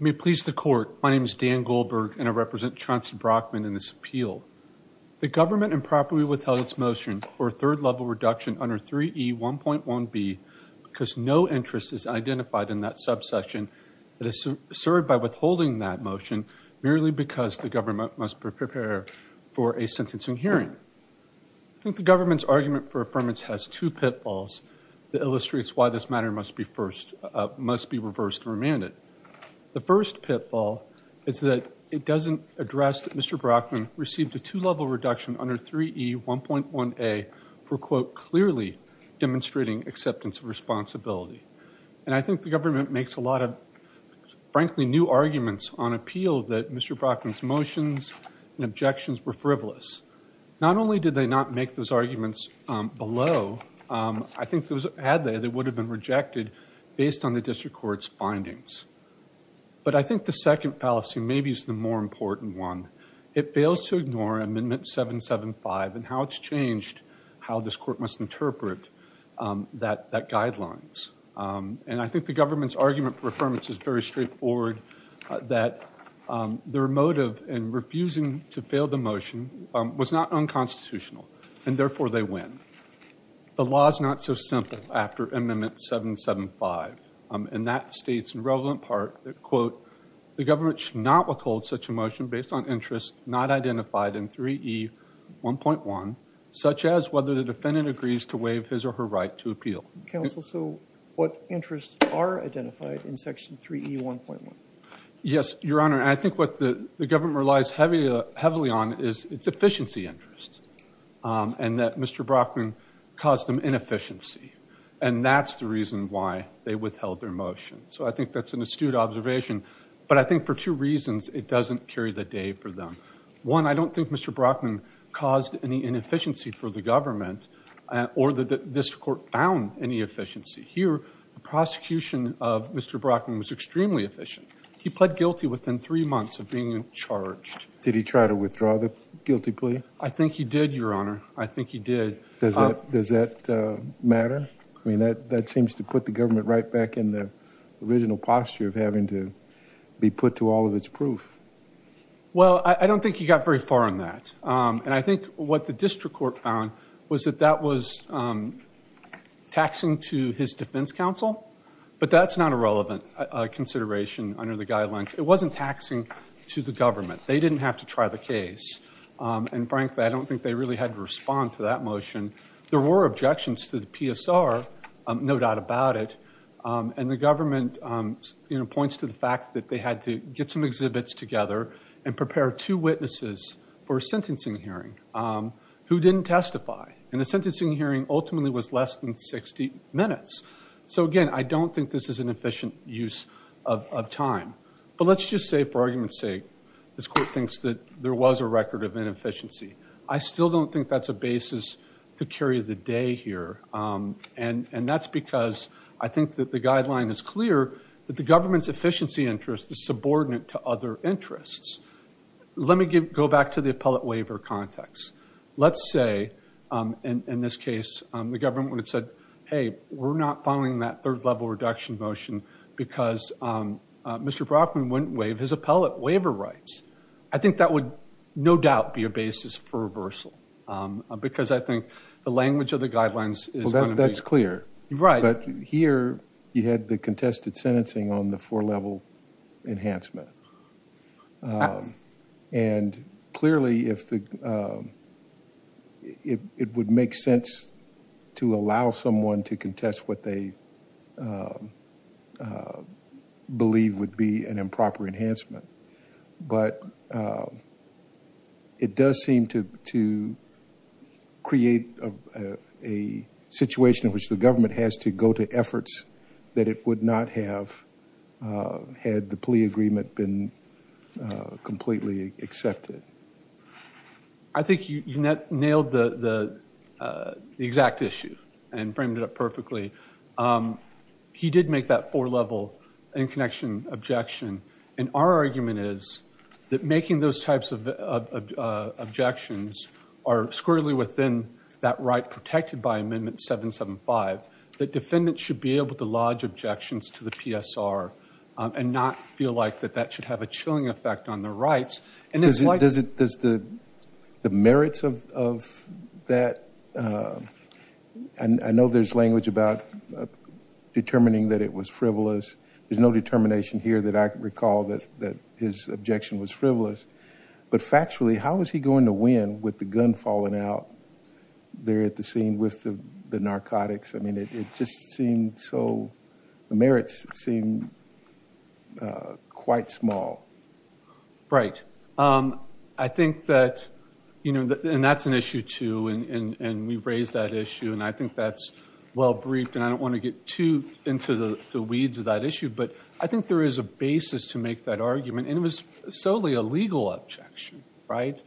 May it please the court, my name is Dan Goldberg and I represent Chauncey Brockman in this appeal. The government improperly withheld its motion for a third level reduction under 3E1.1b because no interest is identified in that subsection. It is served by withholding that motion merely because the government must prepare for a sentencing hearing. I think the government's argument for affirmance has two pitfalls that illustrates why this matter must be reversed and remanded. The first pitfall is that it doesn't address that Mr. Brockman received a two level reduction under 3E1.1a for quote clearly demonstrating acceptance of responsibility. And I think the government makes a lot of, frankly, new arguments on appeal that Mr. Brockman's motions and objections were frivolous. Not only did they not make those arguments below, I think those, had they, they would have been rejected based on the district court's findings. But I think the second fallacy maybe is the more important one. It fails to ignore amendment 775 and how it's changed how this court must interpret that guidelines. And I think the government's argument for affirmance is very straightforward that their motive in refusing to fail the motion was not unconstitutional and therefore they win. The law is not so simple after amendment 775 and that states in relevant part that quote the government should not withhold such a motion based on interest not identified in 3E1.1 such as whether the defendant agrees to waive his or her right to appeal. Counsel, so what interests are identified in section 3E1.1? Yes, your honor. I think what the government relies heavily on is its efficiency interests and that Mr. Brockman caused them inefficiency and that's the reason why they withheld their motion. So I think that's an astute observation but I think for two reasons it doesn't carry the day for them. One, I don't think Mr. Brockman caused any inefficiency for the government or that this court found any efficiency. Here the prosecution of Mr. Brockman was extremely efficient. He pled guilty within three months of being charged. Did he try to withdraw the guilty plea? I think he did, your honor. I think he did. Does that matter? I mean that seems to put the government right back in the posture of having to be put to all of its proof. Well, I don't think he got very far on that and I think what the district court found was that that was taxing to his defense counsel but that's not a relevant consideration under the guidelines. It wasn't taxing to the government. They didn't have to try the case and frankly I don't think they really had to respond to that motion. There were objections to the PSR, no doubt about it, and the government points to the fact that they had to get some exhibits together and prepare two witnesses for a sentencing hearing who didn't testify and the sentencing hearing ultimately was less than 60 minutes. So again, I don't think this is an efficient use of time but let's just say for argument's sake this court thinks that there was a record of inefficiency. I still don't think that's a basis to carry the day here and that's because I think that the guideline is clear that the government's efficiency interest is subordinate to other interests. Let me go back to the appellate waiver context. Let's say in this case the government would have said hey we're not following that third level reduction motion because Mr. Brockman wouldn't waive his appellate waiver rights. I think that would no doubt be a basis for reversal because I think the language of the guidelines is clear. But here you had the contested sentencing on the four level enhancement and clearly if the it would make sense to allow someone to contest what they believe would be an improper enhancement but it does seem to create a situation in which the government has to go to efforts that it would not have had the plea agreement been completely accepted. I think you nailed the exact issue and framed it up perfectly. He did make that four level in connection objection and our argument is that making those types of objections are squarely within that right protected by amendment 775 that defendants should be able to lodge objections to the PSR and not feel like that that should have a chilling effect on their rights. Does the merits of that and I know there's language about determining that it was frivolous. There's no determination here that I recall that that his objection was frivolous but factually how is he going to win with the gun falling out there at the scene with the narcotics. I mean it just seemed so the merits seem quite small. Right I think that you know and that's an issue too and we raised that well briefed and I don't want to get too into the weeds of that issue but I think there is a basis to make that argument and it was solely a legal objection right.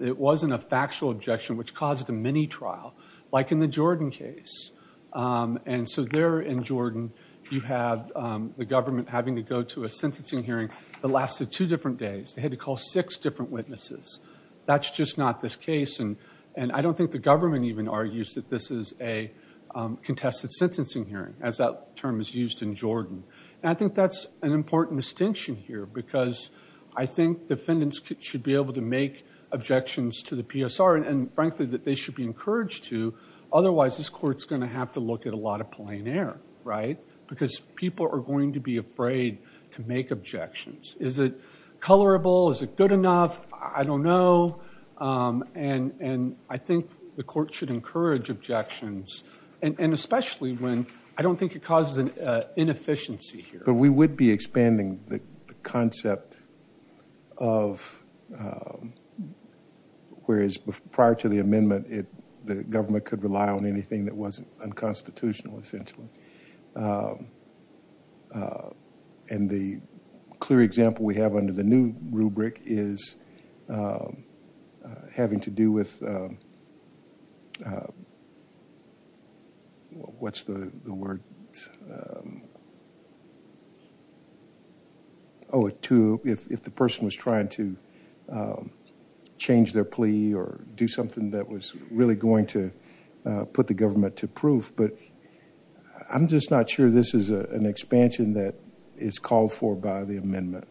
It wasn't a factual objection which caused a mini trial like in the Jordan case and so there in Jordan you have the government having to go to a sentencing hearing that lasted two different days. They had to call six different witnesses. That's just not this case and I don't think the government even argues that this is a contested sentencing hearing as that term is used in Jordan. I think that's an important distinction here because I think defendants should be able to make objections to the PSR and frankly that they should be encouraged to otherwise this court's going to have to look at a lot of plein air right because people are going to be afraid to make objections. Is it colorable? Is it good enough? I don't know and I think the court should encourage objections and especially when I don't think it causes an inefficiency here. But we would be expanding the concept of whereas prior to the amendment it the government could rely on anything that wasn't unconstitutional essentially. And the clear example we have under the new rubric is having to do with what's the word? Oh, if the person was trying to change their plea or do something that was really going to put the government to proof. But I'm just not sure this is an expansion that is called for by the amendment.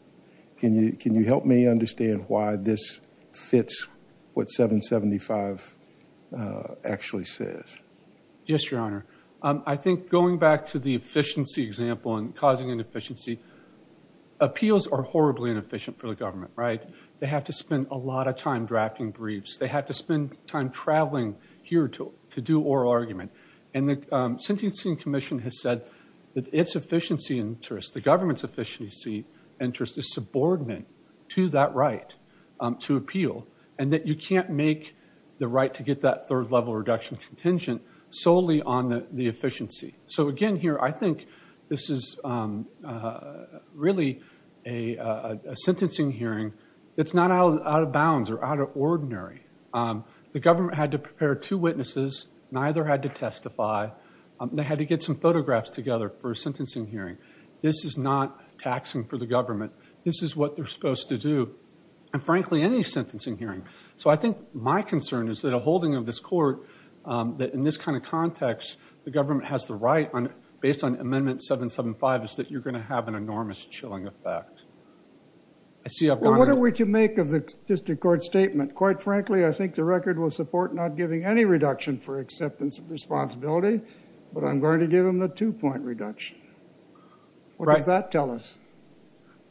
Can you help me understand why this fits what 775 actually says? Yes, your honor. I think going back to the efficiency example and causing inefficiency. Appeals are horribly inefficient for the government, right? They have to spend a lot of time drafting briefs. They have to spend time traveling here to do oral argument. And the sentencing commission has said that its efficiency interest, the government's efficiency interest, is subordinate to that right to appeal. And that you can't make the right to get that third level reduction contingent solely on the efficiency. So again here I think this is really a out of bounds or out of ordinary. The government had to prepare two witnesses. Neither had to testify. They had to get some photographs together for a sentencing hearing. This is not taxing for the government. This is what they're supposed to do. And frankly, any sentencing hearing. So I think my concern is that a holding of this court that in this kind of context the government has the right based on amendment 775 is that you're going to have an enormous chilling effect. Well, what are we to make of the district court statement? Quite frankly, I think the record will support not giving any reduction for acceptance of responsibility, but I'm going to give them the two-point reduction. What does that tell us?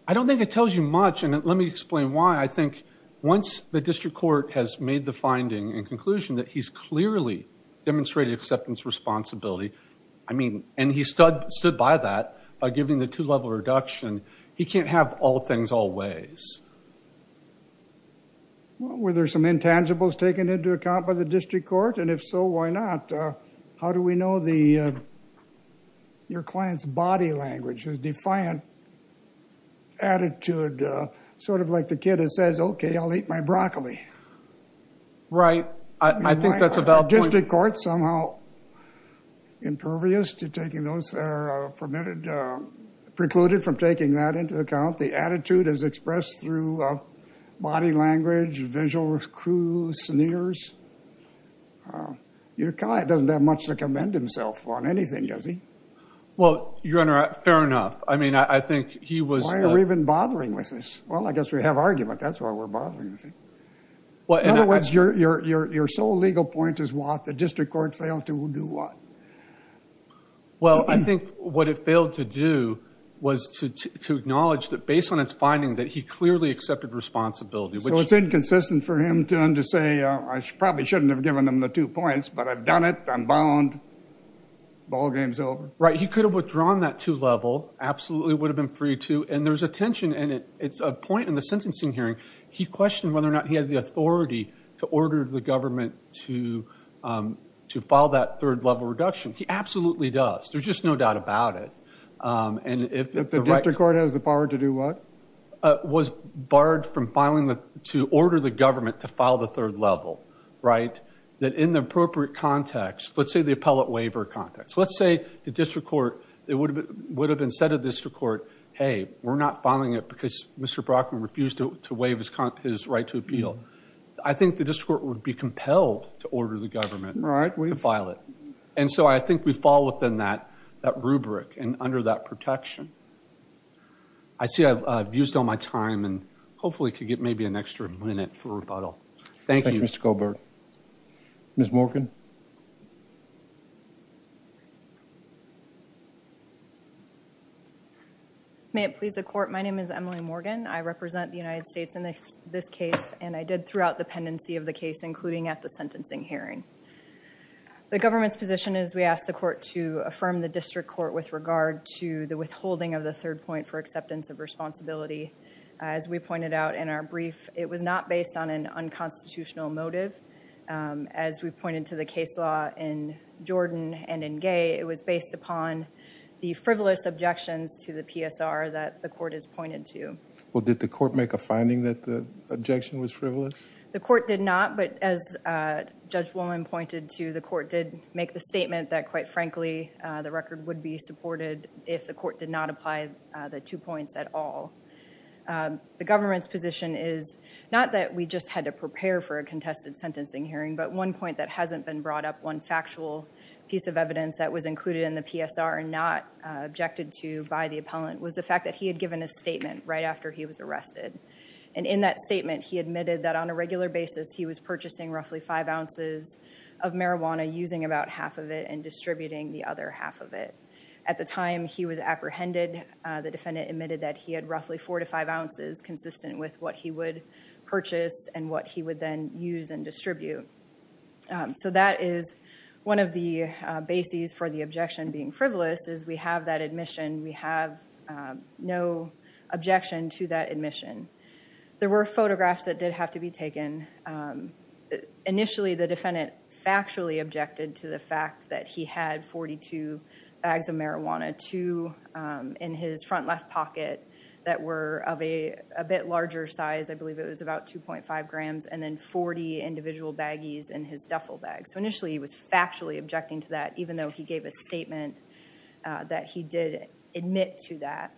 I don't think it tells you much and let me explain why. I think once the district court has made the finding and conclusion that he's clearly demonstrated acceptance responsibility, I mean, and he stood by that by giving the two-level reduction, he can't have all things all ways. Were there some intangibles taken into account by the district court? And if so, why not? How do we know your client's body language, his defiant attitude? Sort of like the kid that says, okay, I'll eat my broccoli. Right. I think that's a valid point. District court somehow impervious to taking those permitted, precluded from taking that into account. The attitude is expressed through body language, visuals, crews, sneers. Your client doesn't have much to commend himself on anything, does he? Well, your Honor, fair enough. I mean, I think he was- Why are we even bothering with this? Well, I guess we have argument. That's why we're bothering. In other words, your sole legal point is what the district court failed to do what? Well, I think what it failed to do was to acknowledge that based on its finding that he clearly accepted responsibility, which- So it's inconsistent for him to say, I probably shouldn't have given him the two points, but I've done it. I'm bound. Ball game's over. Right. He could have withdrawn that two-level, absolutely would have been free and there's a tension and it's a point in the sentencing hearing. He questioned whether or not he had the authority to order the government to file that third-level reduction. He absolutely does. There's just no doubt about it. And if- If the district court has the power to do what? Was barred from filing to order the government to file the third level, right? That in the appropriate context, let's say the appellate waiver context. Let's say the district court, it would have been said to the district court, hey, we're not filing it because Mr. Brockman refused to waive his right to appeal. I think the district court would be compelled to order the government to file it. And so I think we fall within that rubric and under that protection. I see I've used all my time and hopefully could get maybe an extra minute for rebuttal. Thank you. Thank you, Mr. Goldberg. Ms. Morgan. May it please the court. My name is Emily Morgan. I represent the United States in this case and I did throughout the pendency of the case, including at the sentencing hearing. The government's position is we asked the court to affirm the district court with regard to the withholding of the third point for acceptance of responsibility. As we pointed out in our brief, it was not based on an unconstitutional motive. As we pointed to the case law in Jordan and in Gay, it was based upon the frivolous objections to the PSR that the court has pointed to. Well, did the court make a finding that the objection was frivolous? The court did not. But as Judge Wolin pointed to, the court did make the statement that quite frankly, the record would be supported if the had to prepare for a contested sentencing hearing. But one point that hasn't been brought up, one factual piece of evidence that was included in the PSR and not objected to by the appellant, was the fact that he had given a statement right after he was arrested. And in that statement, he admitted that on a regular basis, he was purchasing roughly five ounces of marijuana, using about half of it and distributing the other half of it. At the time he was apprehended, the defendant admitted that he had roughly four to five ounces consistent with what he would and what he would then use and distribute. So that is one of the bases for the objection being frivolous, is we have that admission. We have no objection to that admission. There were photographs that did have to be taken. Initially, the defendant factually objected to the fact that he had 42 bags of marijuana, two in his front left pocket that were of a bit larger size, I believe it was about 2.5 grams, and then 40 individual baggies in his duffel bag. So initially, he was factually objecting to that, even though he gave a statement that he did admit to that.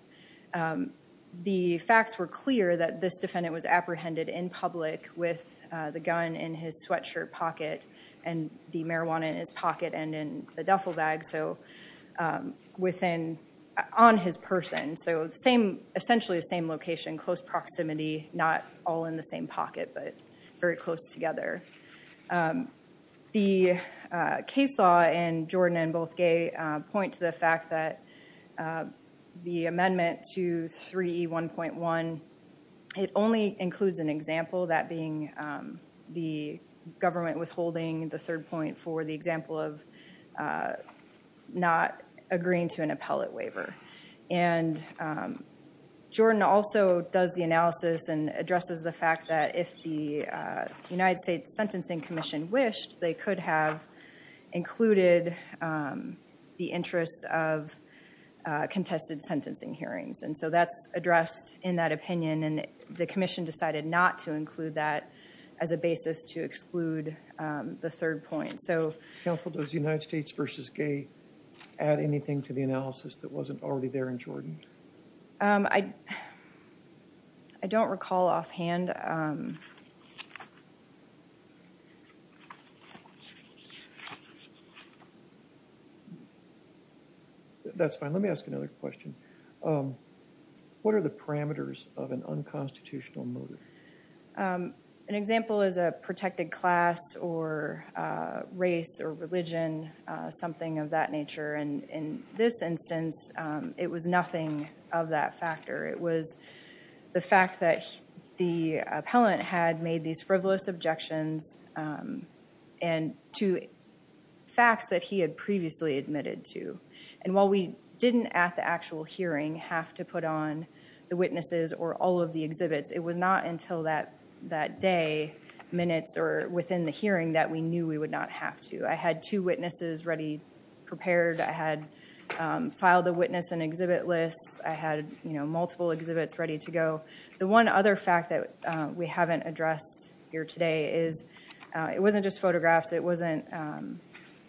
The facts were clear that this defendant was apprehended in public with the gun in his sweatshirt pocket and the marijuana in his pocket and in the duffel bag, so within, on his person. Essentially the same location, close proximity, not all in the same pocket, but very close together. The case law and Jordan and Bothgay point to the fact that the amendment to 3E1.1, it only includes an example, that being the government withholding the third point for the example of not agreeing to an appellate waiver. Jordan also does the analysis and addresses the fact that if the United States Sentencing Commission wished, they could have included the interest of contested sentencing hearings, and so that's addressed in that opinion and the commission decided not to include that as a basis to exclude the third point, so. Counsel, does United States v. Gay add anything to the analysis that wasn't already there in Jordan? I don't recall offhand. That's fine. Let me ask another question. What are the parameters of an unconstitutional motive? An example is a protected class or race or religion, something of that nature, and in this instance it was nothing of that factor. It was the fact that the appellant had made these frivolous objections and to facts that he had previously admitted to, and while we didn't at the actual hearing have to put on the witnesses or all of the exhibits, it was not until that that day, minutes, or within the hearing that we knew we would not have to. I had two witnesses ready prepared. I had filed the witness and exhibit lists. I had, you know, multiple exhibits ready to go. The one other fact that we haven't addressed here today is it wasn't just photographs. It wasn't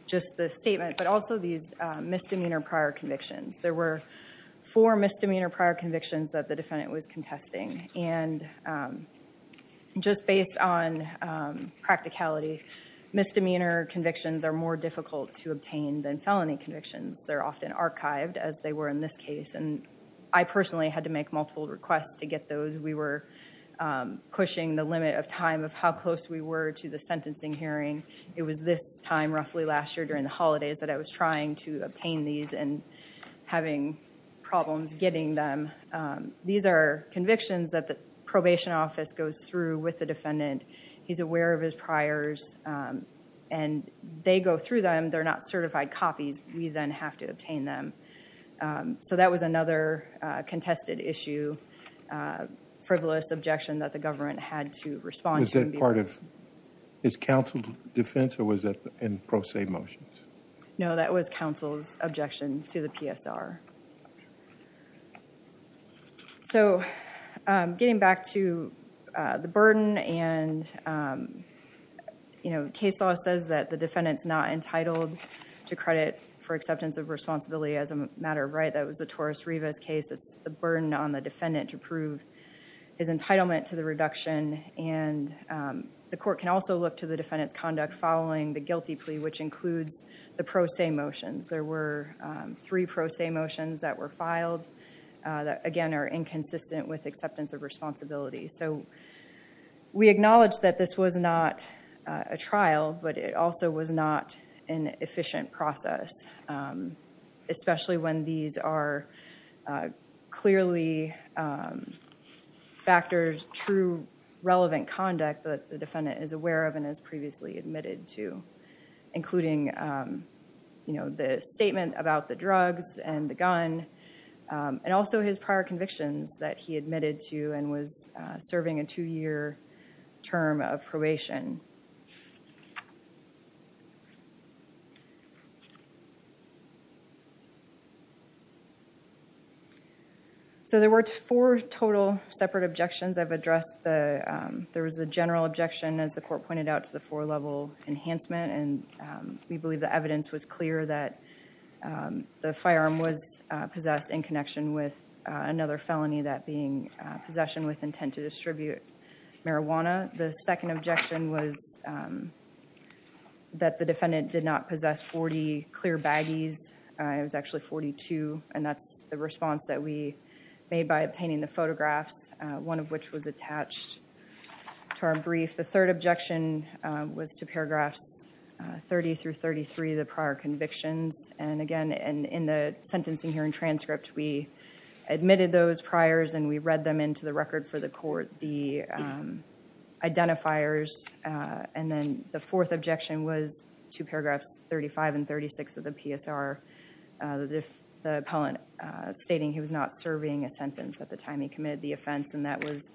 just the statement, but also these misdemeanor prior convictions. There were four misdemeanor prior convictions that the defendant was contesting, and just based on practicality, misdemeanor convictions are more difficult to obtain than felony convictions. They're often archived, as they were in this case, and I personally had to make multiple requests to get those. We were pushing the limit of time of how close we were to the sentencing hearing. It was this time roughly last year during the holidays that I was trying to obtain these and having problems getting them. These are convictions that the probation office goes through with the and they go through them. They're not certified copies. We then have to obtain them, so that was another contested issue, frivolous objection that the government had to respond. Was that part of his counsel's defense, or was that in pro se motions? No, that was counsel's objection to the PSR. So, getting back to the burden and, you know, case law says that the defendant's not entitled to credit for acceptance of responsibility as a matter of right. That was the Torres-Rivas case. It's the burden on the defendant to prove his entitlement to the reduction, and the court can also look to the defendant's conduct following the guilty plea, which includes the pro se motions. There were three pro se motions that were filed that, again, are inconsistent with acceptance of responsibility. So, we acknowledge that this was not a trial, but it also was not an efficient process, especially when these are clearly factors, true, relevant conduct that the defendant is aware of and has previously admitted to, including, you know, the statement about the drugs and the gun, and also his prior convictions that he admitted to and was serving a two-year term of probation. So, there were four total separate objections. I've addressed the, there was the general objection, as the court pointed out, to the four-level enhancement, and we believe the evidence was clear that the firearm was possessed in connection with another felony, that being possession with intent to distribute marijuana. The second objection was that the defendant did not possess 40 clear baggies. It was actually 42, and that's the term brief. The third objection was to paragraphs 30 through 33, the prior convictions, and again, and in the sentencing hearing transcript, we admitted those priors, and we read them into the record for the court, the identifiers, and then the fourth objection was to paragraphs 35 and 36 of the PSR, the appellant stating he was not serving a sentence at the time he committed the offense, and that was,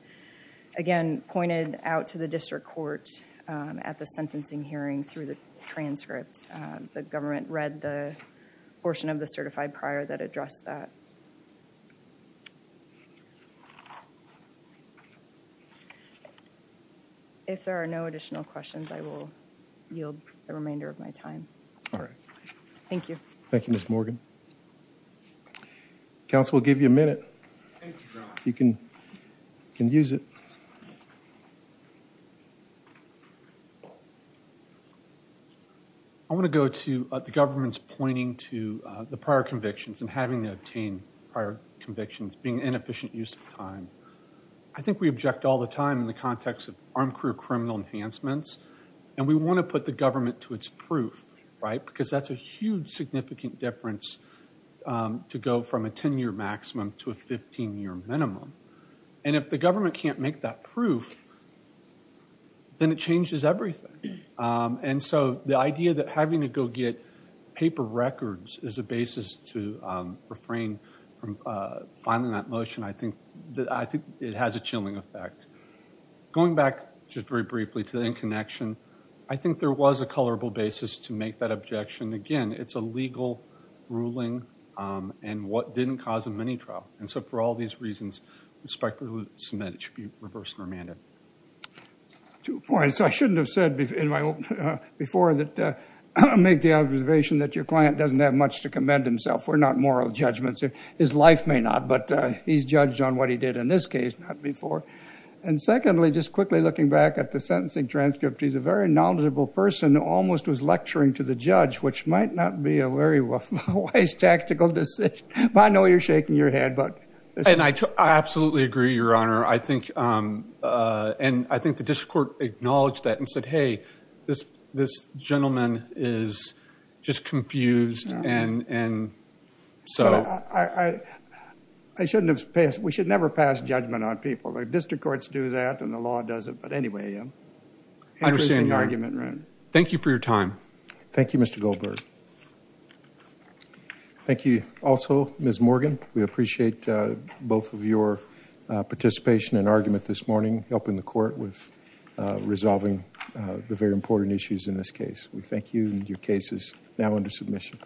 again, pointed out to the district court at the sentencing hearing through the transcript. The government read the portion of the certified prior that addressed that. If there are no additional questions, I will yield the remainder of my time. All right. Thank you. Thank you, Ms. Morgan. Counsel will give you a minute. You can use it. I want to go to the government's pointing to the prior convictions and having to obtain prior convictions being an inefficient use of time. I think we object all the time in the context of armed career criminal enhancements, and we want to put the government to its proof, right, because that's a huge significant difference to go from a 10-year maximum to a 15-year minimum, and if the government can't make that proof, then it changes everything, and so the idea that having to go get paper records is a basis to refrain from filing that motion, I think it has a chilling effect. Going back just very briefly to the in-connection, I think there was a colorable basis to make that objection. Again, it's a legal ruling, and what didn't cause a mini-trial, and so for all these reasons, I respectfully submit it should be reversed and remanded. Two points I shouldn't have said before that make the observation that your client doesn't have much to commend himself. We're not moral judgments. His life may not, but he's judged on what he did in this case, not before, and secondly, just quickly looking back at the sentencing transcript, he's a very knowledgeable person, almost was lecturing to the judge, which might not be a very wise tactical decision, but I know you're shaking your head. I absolutely agree, your honor. I think the district court acknowledged that and said, hey, this gentleman is just confused. We should never pass judgment on people. District courts do that, and the law doesn't, but anyway, interesting argument. Thank you for your time. Thank you, Mr. Goldberg. Thank you also, Ms. Morgan. We appreciate both of your participation and argument this morning, helping the court with resolving the very important issues in this case. Thank you, and your case is now under submission.